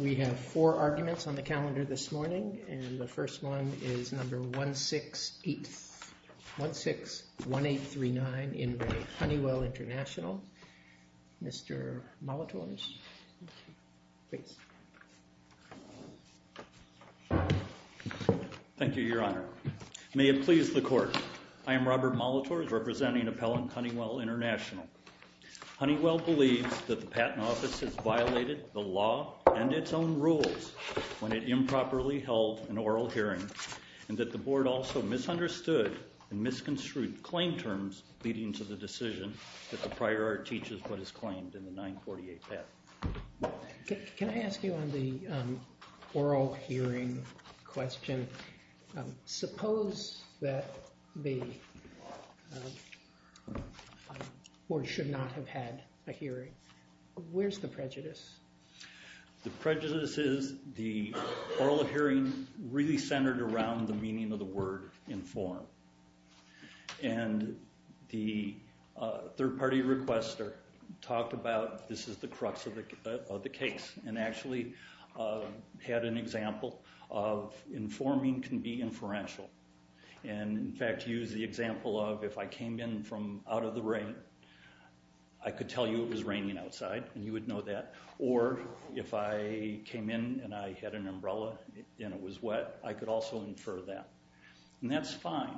We have four arguments on the calendar this morning, and the first one is number 168. 161839 in Re Honeywell International. Mr. Molitores, please. Thank you, Your Honor. May it please the Court, I am Robert Molitores, representing Appellant Honeywell International. Honeywell believes that the Patent Office has violated the law and its own rules when it improperly held an oral hearing, and that the Board also misunderstood and misconstrued claim terms leading to the decision that the prior art teaches what is claimed in the 948 patent. Can I ask you on the oral hearing question? Suppose that the Board should not have had a hearing. Where's the prejudice? The prejudice is the oral hearing really centered around the meaning of the word inform. And the third party requester talked about this is the crux of the case, and actually had an example of informing can be inferential. And in fact used the example of if I came in from out of the rain, I could tell you it was raining outside, and you would know that. Or if I came in and I had an umbrella and it was wet, I could also infer that. And that's fine.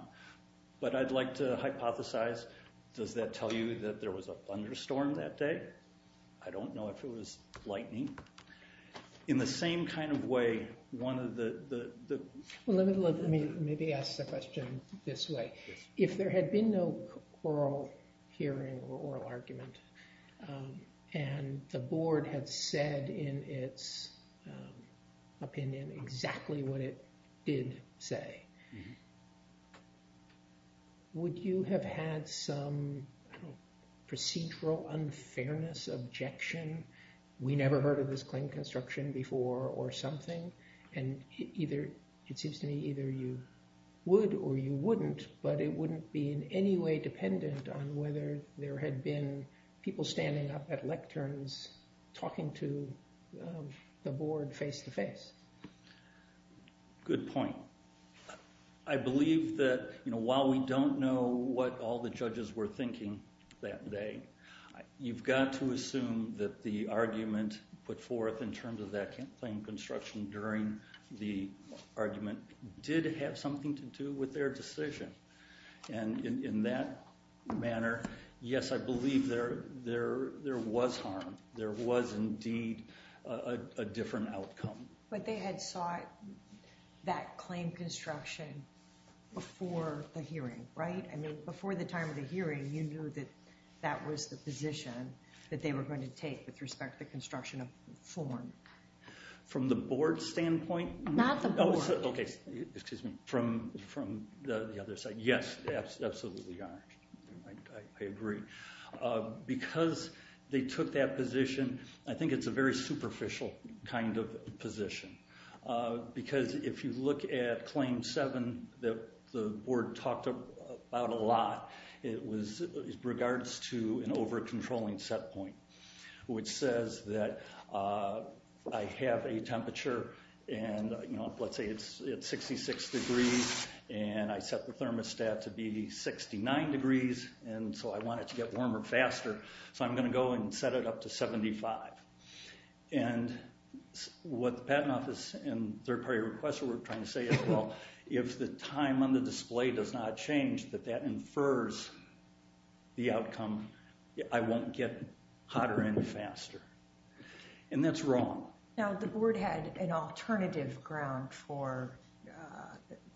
But I'd like to hypothesize, does that tell you that there was a thunderstorm that day? I don't know if it was lightning. In the same kind of way, one of the... Let me maybe ask the question this way. If there had been no oral hearing or oral argument, and the Board had said in its opinion exactly what it did say, would you have had some procedural unfairness objection? We never heard of this claim construction before or something. And it seems to me either you would or you wouldn't, but it wouldn't be in any way dependent on whether there had been people standing up at lecterns talking to the Board face-to-face. Good point. I believe that while we don't know what all the judges were thinking that day, you've got to assume that the argument put forth in terms of that claim construction during the argument did have something to do with their decision. And in that manner, yes, I believe there was harm. There was indeed a different outcome. But they had sought that claim construction before the hearing, right? I mean, before the time of the hearing, you knew that that was the position that they were going to take with respect to construction of form. From the Board's standpoint? Not the Board. Okay, excuse me. From the other side. Yes, absolutely. I agree. Because they took that position, I think it's a very superficial kind of position. Because if you look at Claim 7 that the Board talked about a lot, it regards to an over-controlling set point. Which says that I have a temperature, and let's say it's 66 degrees, and I set the thermostat to be 69 degrees, and so I want it to get warmer faster, so I'm going to go and set it up to 75. And what the Patent Office and Third Party Requester were trying to say as well, if the time on the display does not change, that that infers the outcome, I won't get hotter any faster. And that's wrong. Now, the Board had an alternative ground for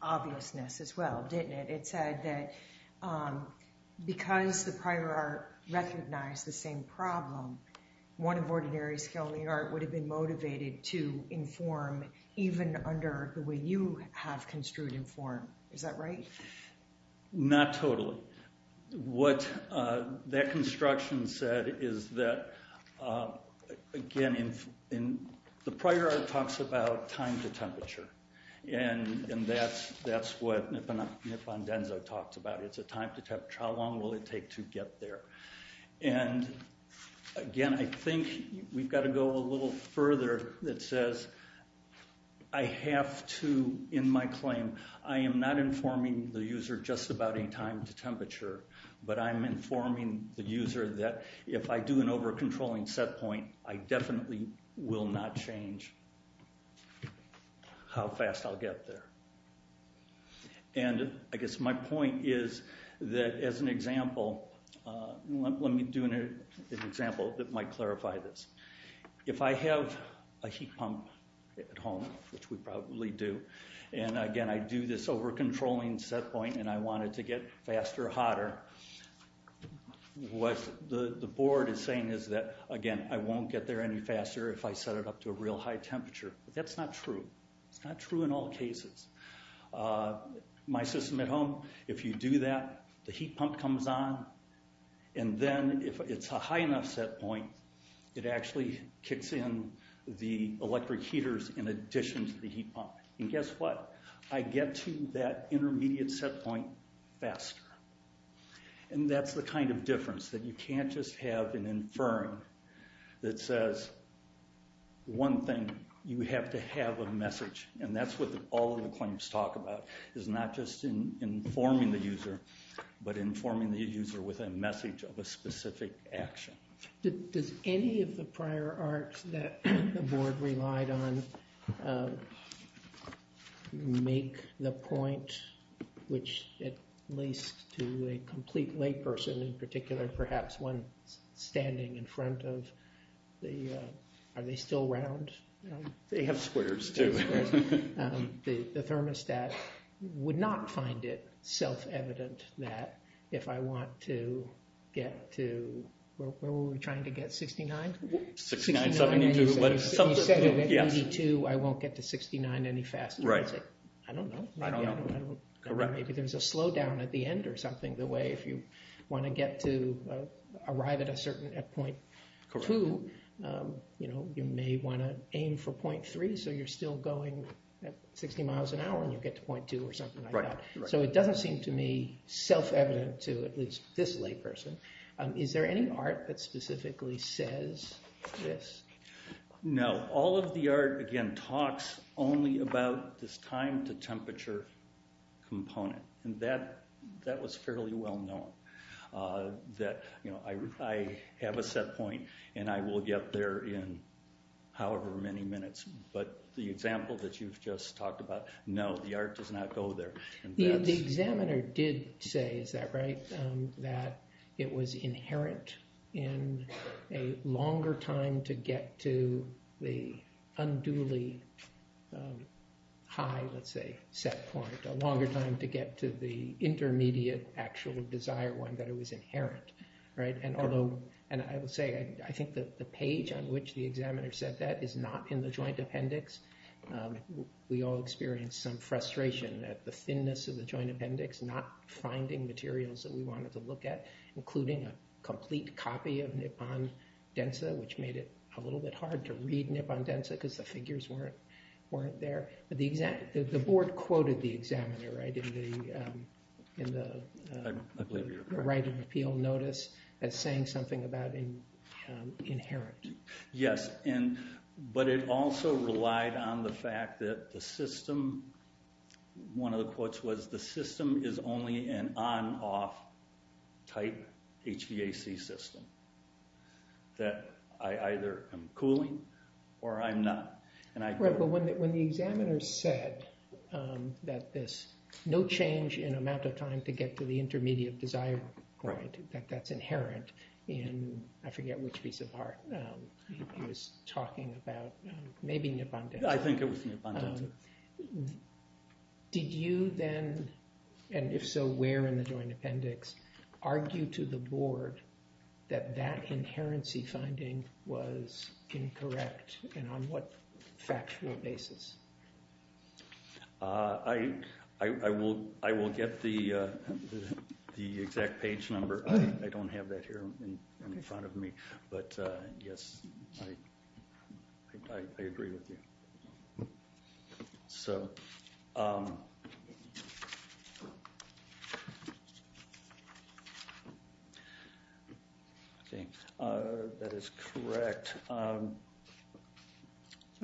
obviousness as well, didn't it? It said that because the prior art recognized the same problem, one of Ordinary Scaling Art would have been motivated to inform even under the way you have construed inform. Is that right? Not totally. What that construction said is that, again, the prior art talks about time to temperature. And that's what Nippon Denso talks about. It's a time to temperature. How long will it take to get there? And, again, I think we've got to go a little further that says I have to, in my claim, I am not informing the user just about any time to temperature, but I'm informing the user that if I do an over-controlling set point, I definitely will not change how fast I'll get there. And I guess my point is that, as an example, let me do an example that might clarify this. If I have a heat pump at home, which we probably do, and, again, I do this over-controlling set point and I want it to get faster or hotter, what the Board is saying is that, again, I won't get there any faster if I set it up to a real high temperature. But that's not true. It's not true in all cases. My system at home, if you do that, the heat pump comes on, and then if it's a high enough set point, it actually kicks in the electric heaters in addition to the heat pump. And guess what? I get to that intermediate set point faster. And that's the kind of difference, that you can't just have an infirm that says, one thing, you have to have a message. And that's what all of the claims talk about, is not just informing the user, but informing the user with a message of a specific action. Does any of the prior art that the Board relied on make the point which, at least to a complete layperson in particular, perhaps one standing in front of the, are they still round? They have squares too. The thermostat would not find it self-evident that if I want to get to, what were we trying to get, 69? If you set it at 82, I won't get to 69 any faster. I don't know. Maybe there's a slowdown at the end or something, the way if you want to get to arrive at a certain point, you may want to aim for .3, so you're still going at 60 miles an hour and you get to .2 or something like that. So it doesn't seem to me self-evident to at least this layperson. Is there any art that specifically says this? No. All of the art, again, talks only about this time to temperature component, and that was fairly well known. I have a set point and I will get there in however many minutes, but the example that you've just talked about, no, the art does not go there. The examiner did say, is that right, that it was inherent in a longer time to get to the unduly high, let's say, set point, a longer time to get to the intermediate actual desire one, that it was inherent. And although, and I will say, I think that the page on which the examiner said that is not in the joint appendix. We all experienced some frustration at the thinness of the joint appendix, not finding materials that we wanted to look at, including a complete copy of Nippon Densa, which made it a little bit hard to read Nippon Densa because the figures weren't there. The board quoted the examiner in the right of appeal notice as saying something about inherent. Yes, but it also relied on the fact that the system, one of the quotes was, the system is only an on-off type HVAC system, that I either am cooling or I'm not. Right, but when the examiner said that this no change in amount of time to get to the intermediate desire point, that that's inherent in, I forget which piece of art he was talking about, maybe Nippon Densa. I think it was Nippon Densa. Did you then, and if so, where in the joint appendix, argue to the board that that inherency finding was incorrect and on what factual basis? I will get the exact page number. I don't have that here in front of me, but yes, I agree with you. So, that is correct. Are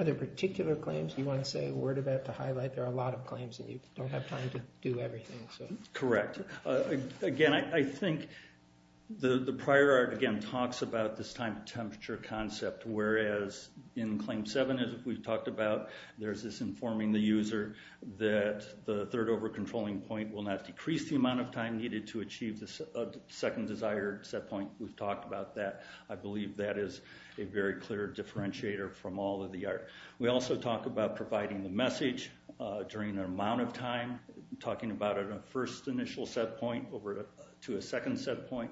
there particular claims you want to say a word about to highlight? There are a lot of claims and you don't have time to do everything. Correct. Again, I think the prior art, again, talks about this time temperature concept, whereas in claim seven, as we've talked about, there's this informing the user that the third over-controlling point will not decrease the amount of time needed to achieve the second desired set point. We've talked about that. I believe that is a very clear differentiator from all of the art. We also talk about providing the message during an amount of time, talking about a first initial set point over to a second set point.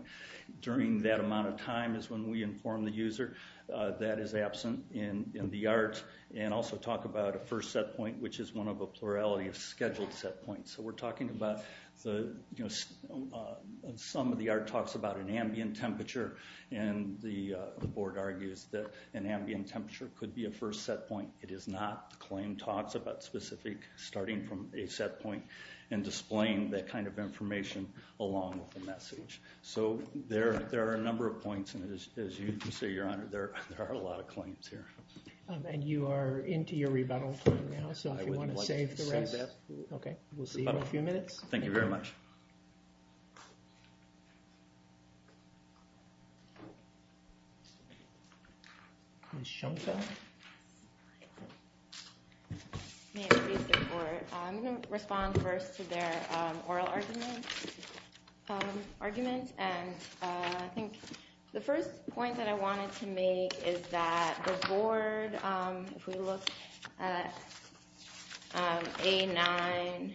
During that amount of time is when we inform the user that is absent in the art, and also talk about a first set point, which is one of a plurality of scheduled set points. So, we're talking about some of the art talks about an ambient temperature, and the board argues that an ambient temperature could be a first set point. It is not. The claim talks about specific starting from a set point and displaying that kind of information along with the message. So, there are a number of points, and as you say, Your Honor, there are a lot of claims here. And you are into your rebuttal time now, so if you want to save the rest, we'll see you in a few minutes. Thank you very much. I'm going to respond first to their oral argument, and I think the first point that I wanted to make is that the board, if we look at A9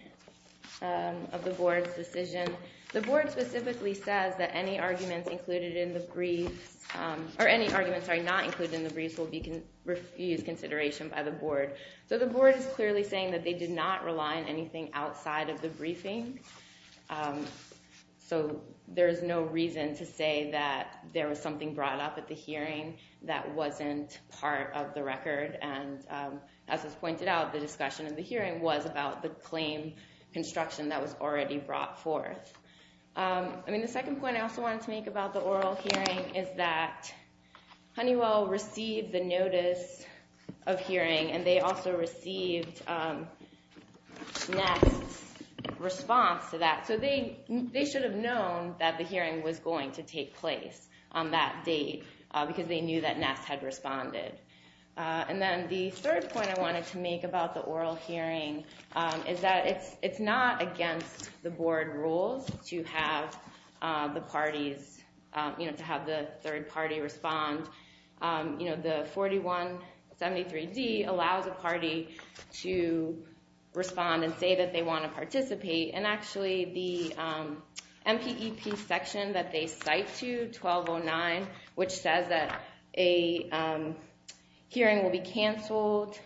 of the board's decision, the board specifically says that any arguments not included in the briefs will be refused consideration by the board. So, the board is clearly saying that they did not rely on anything outside of the briefing. So, there is no reason to say that there was something brought up at the hearing that wasn't part of the record. And as was pointed out, the discussion of the hearing was about the claim construction that was already brought forth. The second point I also wanted to make about the oral hearing is that Honeywell received the notice of hearing, and they also received NEST's response to that. So, they should have known that the hearing was going to take place on that date, because they knew that NEST had responded. And then the third point I wanted to make about the oral hearing is that it's not against the board rules to have the parties, you know, to have the third party respond. You know, the 4173D allows a party to respond and say that they want to participate. And actually, the MPEP section that they cite to, 1209, which says that a hearing will be canceled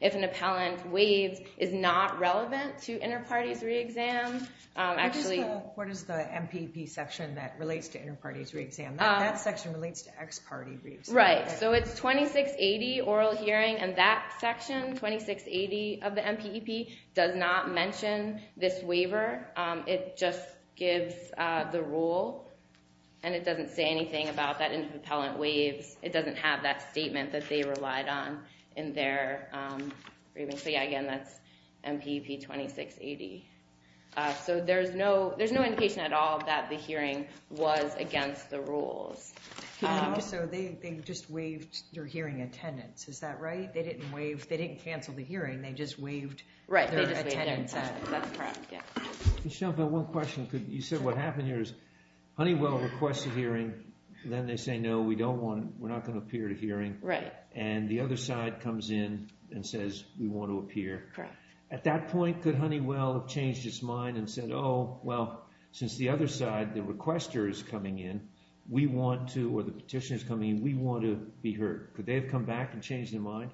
if an appellant waives, is not relevant to inter-parties re-exam. What is the MPEP section that relates to inter-parties re-exam? That section relates to ex-party re-exam. Right. So, it's 2680, oral hearing, and that section, 2680 of the MPEP, does not mention this waiver. It just gives the rule, and it doesn't say anything about that inter-appellant waives. It doesn't have that statement that they relied on in their reading. So, yeah, again, that's MPEP 2680. So, there's no indication at all that the hearing was against the rules. So, they just waived their hearing attendance. Is that right? They didn't cancel the hearing. They just waived their attendance. Right. They just waived their attendance. That's correct. Yeah. Michelle, I've got one question. You said what happened here is Honeywell requests a hearing, then they say, no, we don't want it, we're not going to appear at a hearing. Right. And the other side comes in and says, we want to appear. Correct. At that point, could Honeywell have changed its mind and said, oh, well, since the other side, the requester, is coming in, we want to, or the petitioner is coming in, we want to be heard? Could they have come back and changed their mind?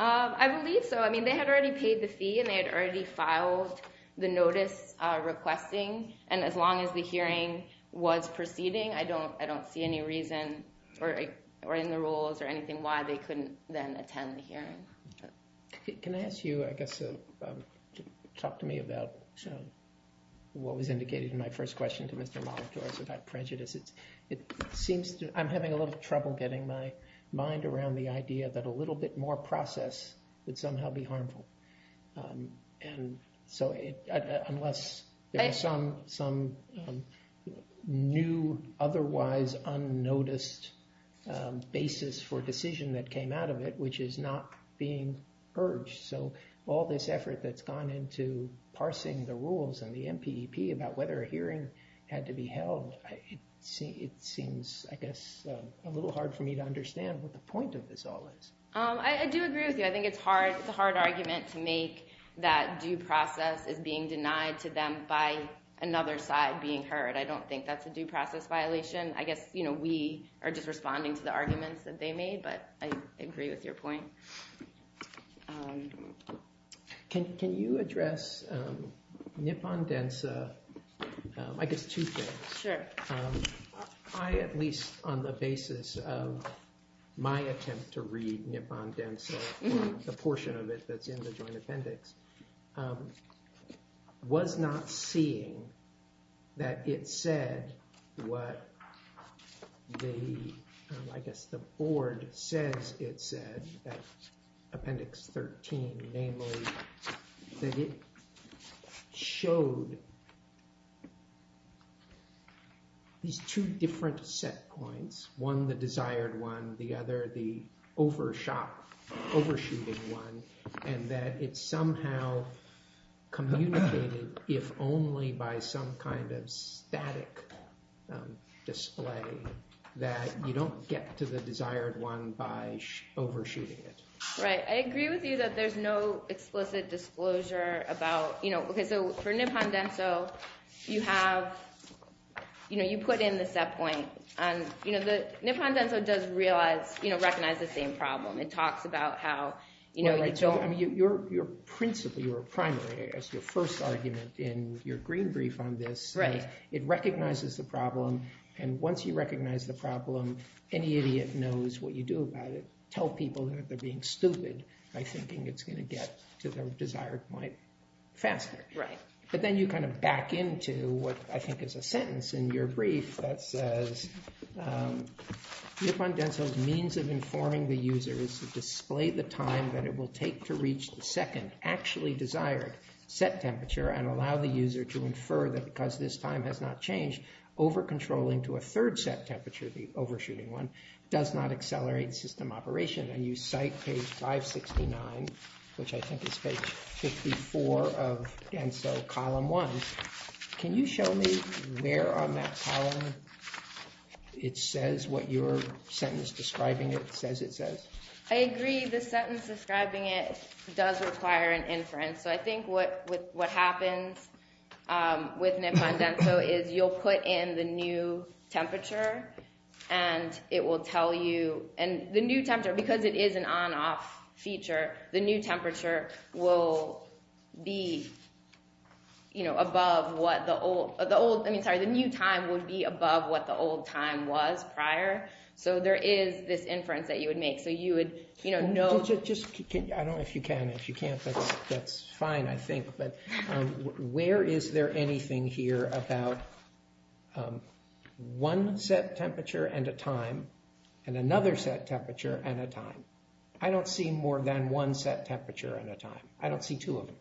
I believe so. I mean, they had already paid the fee and they had already filed the notice requesting. And as long as the hearing was proceeding, I don't I don't see any reason or in the rules or anything why they couldn't then attend the hearing. Can I ask you, I guess, to talk to me about what was indicated in my first question to Mr. Molitorz about prejudice? It seems I'm having a little trouble getting my mind around the idea that a little bit more process would somehow be harmful. And so unless there are some some new, otherwise unnoticed basis for a decision that came out of it, which is not being urged. So all this effort that's gone into parsing the rules and the MPP about whether a hearing had to be held, it seems, I guess, a little hard for me to understand what the point of this all is. I do agree with you. I think it's hard. It's a hard argument to make that due process is being denied to them by another side being heard. I don't think that's a due process violation. I guess, you know, we are just responding to the arguments that they made, but I agree with your point. Can you address Nippon Densa? I guess two things. Sure. I, at least on the basis of my attempt to read Nippon Densa, the portion of it that's in the Joint Appendix, was not seeing that it said what the, I guess, the board says it said at Appendix 13, namely, that it showed these two different set points, one the desired one, the other the overshot, overshooting one, and that it somehow communicated, if only by some kind of static display, that you don't get to the desired one by overshooting it. Right. I agree with you that there's no explicit disclosure about, you know, okay, so for Nippon Densa, you have, you know, you put in the set point, and, you know, Nippon Densa does realize, you know, recognize the same problem. It talks about how, you know, you don't, I mean, your principle, your primary, as your first argument in your green brief on this, it recognizes the problem, and once you recognize the problem, any idiot knows what you do about it, tell people that they're being stupid by thinking it's going to get to their desired point faster. Right. But then you kind of back into what I think is a sentence in your brief that says Nippon Densa's means of informing the user is to display the time that it will take to reach the second actually desired set temperature and allow the user to infer that because this time has not changed, over-controlling to a third set temperature, the overshooting one, does not accelerate system operation. And you cite page 569, which I think is page 54 of DENSO column one. Can you show me where on that column it says what your sentence describing it says it says? I agree. The sentence describing it does require an inference. So I think what happens with Nippon DENSO is you'll put in the new temperature and it will tell you, and the new temperature, because it is an on-off feature, the new temperature will be, you know, above what the old, I mean, sorry, the new time would be above what the old time was prior. So there is this inference that you would make. So you would, you know, know. I don't know if you can. If you can't, that's fine, I think. But where is there anything here about one set temperature and a time and another set temperature and a time? I don't see more than one set temperature and a time. I don't see two of them.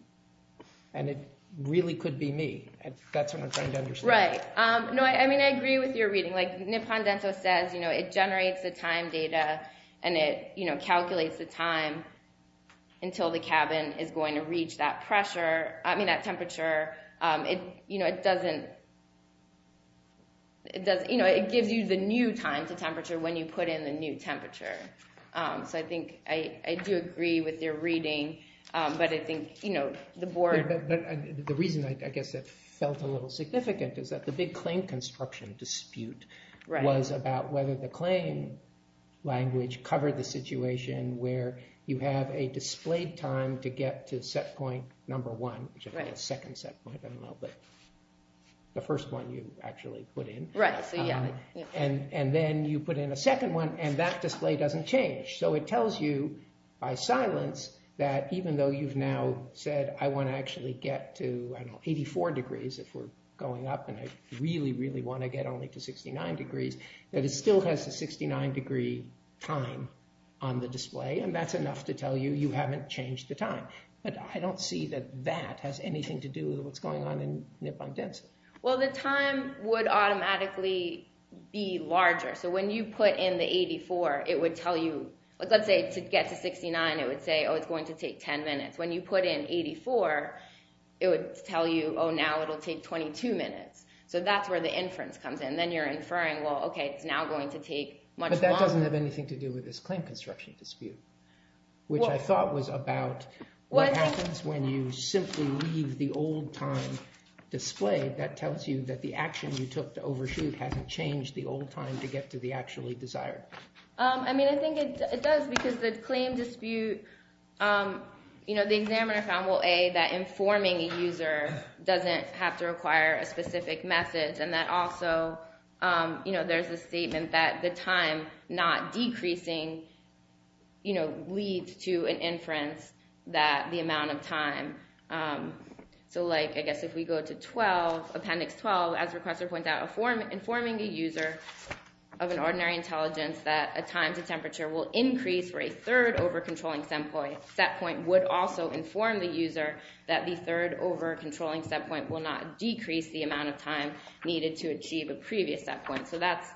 And it really could be me. That's what I'm trying to understand. Right. No, I mean, I agree with your reading. Like Nippon DENSO says, you know, it generates the time data and it, you know, calculates the time until the cabin is going to reach that pressure. I mean, that temperature, it, you know, it doesn't, it does, you know, it gives you the new time to temperature when you put in the new temperature. So I think I do agree with your reading. But I think, you know, the board. But the reason, I guess, that felt a little significant is that the big claim construction dispute was about whether the claim language covered the situation where you have a displayed time to get to set point number one. The second set point, I don't know, but the first one you actually put in. And then you put in a second one and that display doesn't change. So it tells you by silence that even though you've now said, I want to actually get to 84 degrees if we're going up and I really, really want to get only to 69 degrees, that it still has a 69 degree time on the display. And that's enough to tell you you haven't changed the time. But I don't see that that has anything to do with what's going on in Nippon DENSO. Well, the time would automatically be larger. So when you put in the 84, it would tell you, let's say, to get to 69, it would say, oh, it's going to take 10 minutes. When you put in 84, it would tell you, oh, now it'll take 22 minutes. So that's where the inference comes in. Then you're inferring, well, okay, it's now going to take much longer. But that doesn't have anything to do with this claim construction dispute, which I thought was about what happens when you simply leave the old time displayed. That tells you that the action you took to overshoot hasn't changed the old time to get to the actually desired. I mean, I think it does, because the claim dispute, the examiner found, well, A, that informing a user doesn't have to require a specific method. And that also, there's a statement that the time not decreasing leads to an inference that the amount of time. So like, I guess if we go to 12, appendix 12, as requester points out, informing a user of an ordinary intelligence that a time to temperature will increase for a third over-controlling set point would also inform the user that the third over-controlling set point will not decrease the amount of time needed to achieve a previous set point. So that's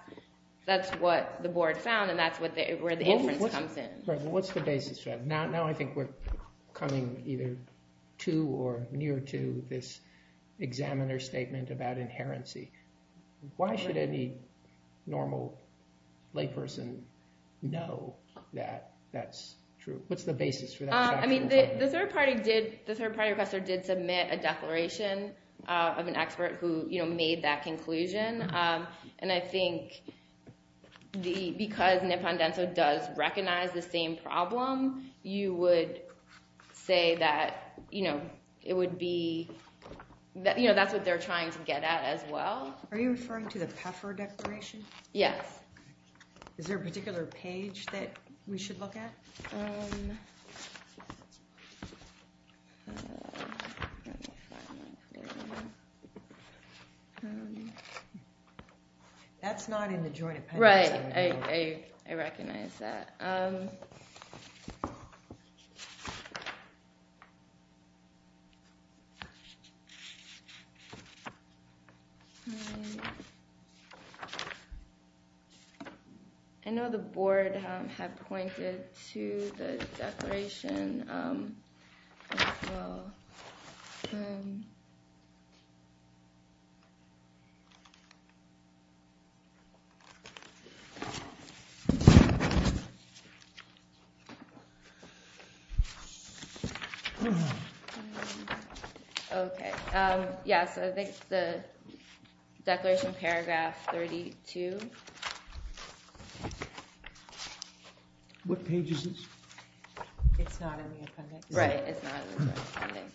what the board found, and that's where the inference comes in. What's the basis for that? Now I think we're coming either to or near to this examiner statement about inherency. Why should any normal layperson know that that's true? What's the basis for that? I mean, the third party requester did submit a declaration of an expert who made that conclusion. And I think because Nipon-Denso does recognize the same problem, you would say that it would be, that's what they're trying to get at as well. Are you referring to the Pfeffer declaration? Yes. Is there a particular page that we should look at? That's not in the joint appendix. Right. I recognize that. I know the board had pointed to the declaration as well. Okay. Yes, I think the declaration paragraph 32. What page is this? It's not in the appendix. Right, it's not in the appendix.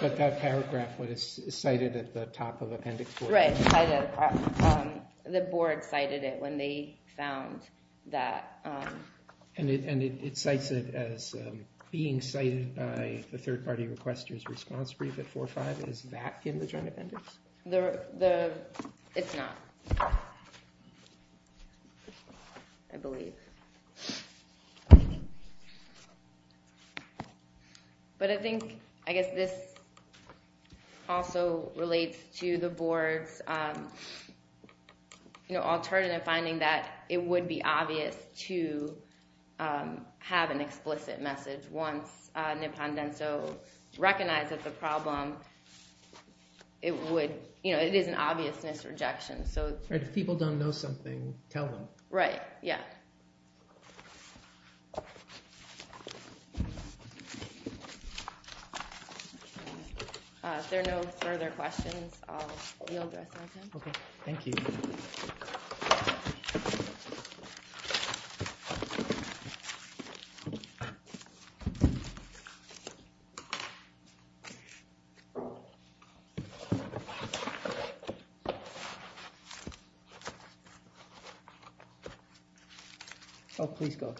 But that paragraph was cited at the top of appendix 4. Right, the board cited it when they found that. And it cites it as being cited by the third party requester's response brief at 4-5. Is that in the joint appendix? It's not. I believe. But I think, I guess this also relates to the board's alternative finding that it would be obvious to have an explicit message once Nipon-Denso recognizes the problem. It would, you know, it is an obvious misrejection. If people don't know something, tell them. Right, yeah. If there are no further questions, I'll yield the rest of my time. Oh, please go.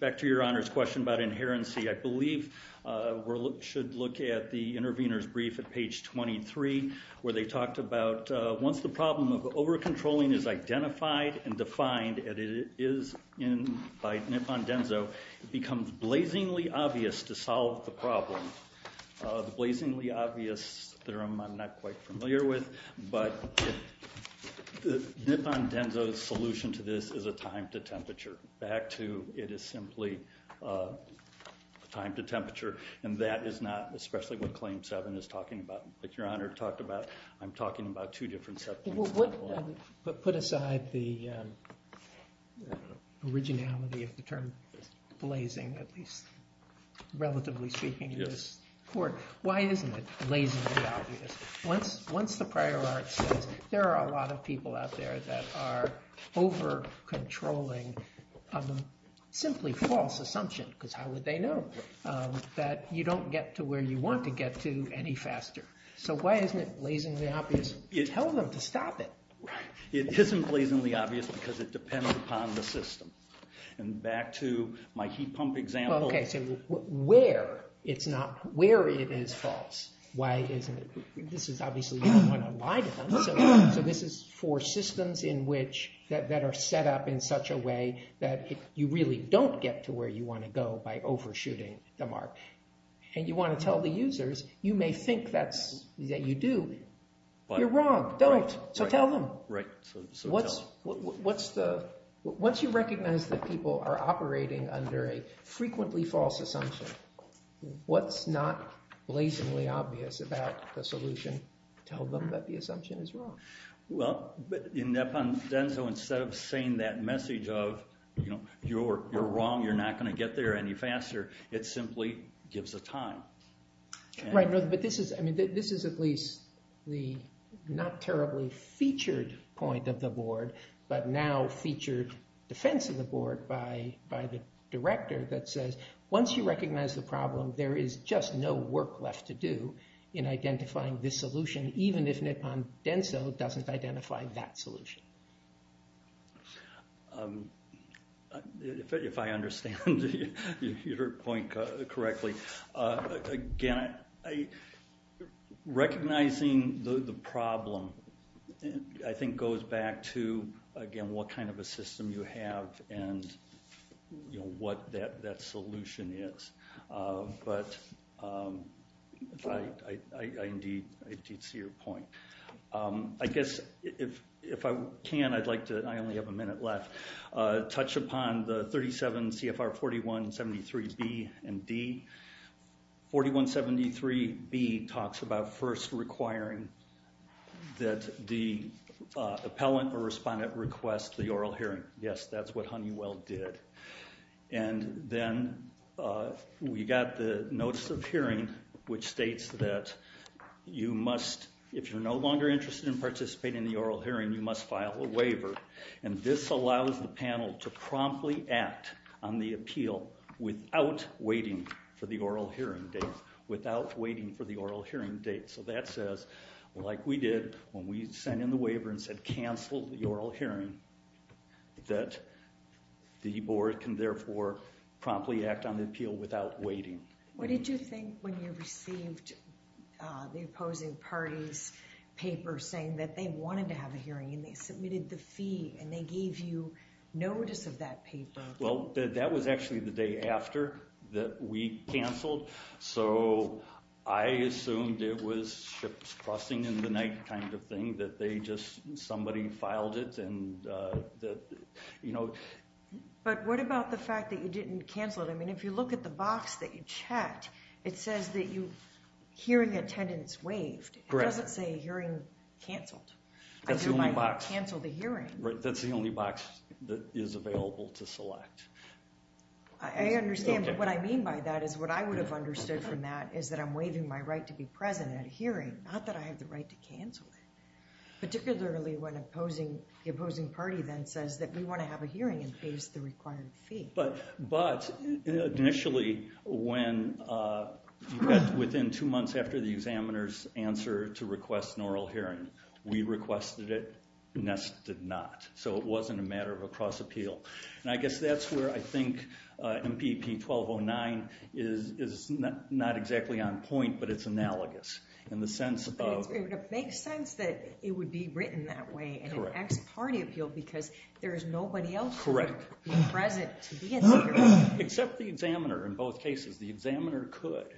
Back to your Honor's question about inherency. I believe we should look at the intervener's brief at page 23 where they talked about once the problem of over-controlling is identified and defined, and it is by Nipon-Denso, it becomes blazingly obvious to solve the problem. The blazingly obvious theorem I'm not quite familiar with, but Nipon-Denso's solution to this is a time to temperature. Back to it is simply a time to temperature, and that is not especially what Claim 7 is talking about, which Your Honor talked about. I'm talking about two different set points. Put aside the originality of the term blazing, at least relatively speaking, in this court. Why isn't it blazingly obvious? Once the prior art says there are a lot of people out there that are over-controlling a simply false assumption, because how would they know, that you don't get to where you want to get to any faster. So why isn't it blazingly obvious? Tell them to stop it. It isn't blazingly obvious because it depends upon the system. And back to my heat pump example. Okay, so where it is false, why isn't it? This is obviously, you don't want to lie to them, so this is for systems that are set up in such a way that you really don't get to where you want to go by overshooting the mark. And you want to tell the users, you may think that you do, but you're wrong. Don't. So tell them. Once you recognize that people are operating under a frequently false assumption, what's not blazingly obvious about the solution? Tell them that the assumption is wrong. Well, in Nippon Denso, instead of saying that message of, you're wrong, you're not going to get there any faster, it simply gives a time. Right, but this is, I mean, this is at least the not terribly featured point of the board, but now featured defense of the board by the director that says, once you recognize the problem, there is just no work left to do in identifying this solution, even if Nippon Denso doesn't identify that solution. If I understand your point correctly, again, recognizing the problem, I think, goes back to, again, what kind of a system you have and, you know, what that solution is. But I indeed see your point. I guess if I can, I'd like to, I only have a minute left, touch upon the 37 CFR 4173B and D. 4173B talks about first requiring that the appellant or respondent request the oral hearing. Yes, that's what Honeywell did. And then we got the notice of hearing, which states that you must, if you're no longer interested in participating in the oral hearing, you must file a waiver. And this allows the panel to promptly act on the appeal without waiting for the oral hearing date, without waiting for the oral hearing date. So that says, like we did when we sent in the waiver and said cancel the oral hearing, that the board can therefore promptly act on the appeal without waiting. What did you think when you received the opposing party's paper saying that they wanted to have a hearing and they submitted the fee and they gave you notice of that paper? Well, that was actually the day after that we canceled. So I assumed it was ships crossing in the night kind of thing, that they just, somebody filed it and that, you know. But what about the fact that you didn't cancel it? I mean, if you look at the box that you checked, it says that you, hearing attendance waived. Correct. It doesn't say hearing canceled. That's the only box. I do not cancel the hearing. That's the only box that is available to select. I understand, but what I mean by that is what I would have understood from that is that I'm waiving my right to be present at a hearing, not that I have the right to cancel it. Particularly when the opposing party then says that we want to have a hearing and pays the required fee. But initially when, within two months after the examiner's answer to request an oral hearing, we requested it, NEST did not. So it wasn't a matter of a cross appeal. And I guess that's where I think MPP 1209 is not exactly on point, but it's analogous in the sense of- Correct. Except the examiner in both cases. The examiner could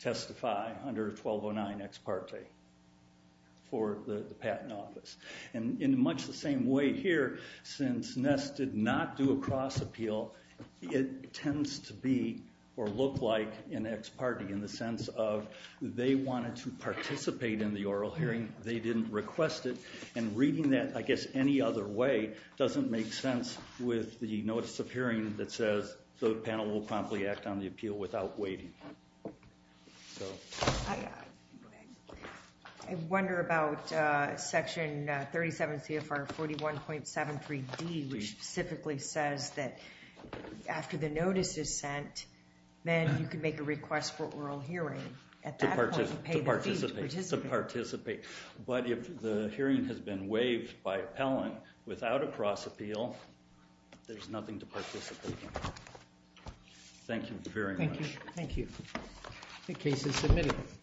testify under 1209 ex parte for the patent office. And in much the same way here, since NEST did not do a cross appeal, it tends to be or look like an ex parte in the sense of they wanted to participate in the oral hearing. They didn't request it. And reading that, I guess, any other way doesn't make sense with the notice of hearing that says the panel will promptly act on the appeal without waiting. I wonder about section 37 CFR 41.73D, which specifically says that after the notice is sent, then you can make a request for oral hearing. To participate. But if the hearing has been waived by appellant without a cross appeal, there's nothing to participate in. Thank you very much. Thank you. Thank you. The case is submitted.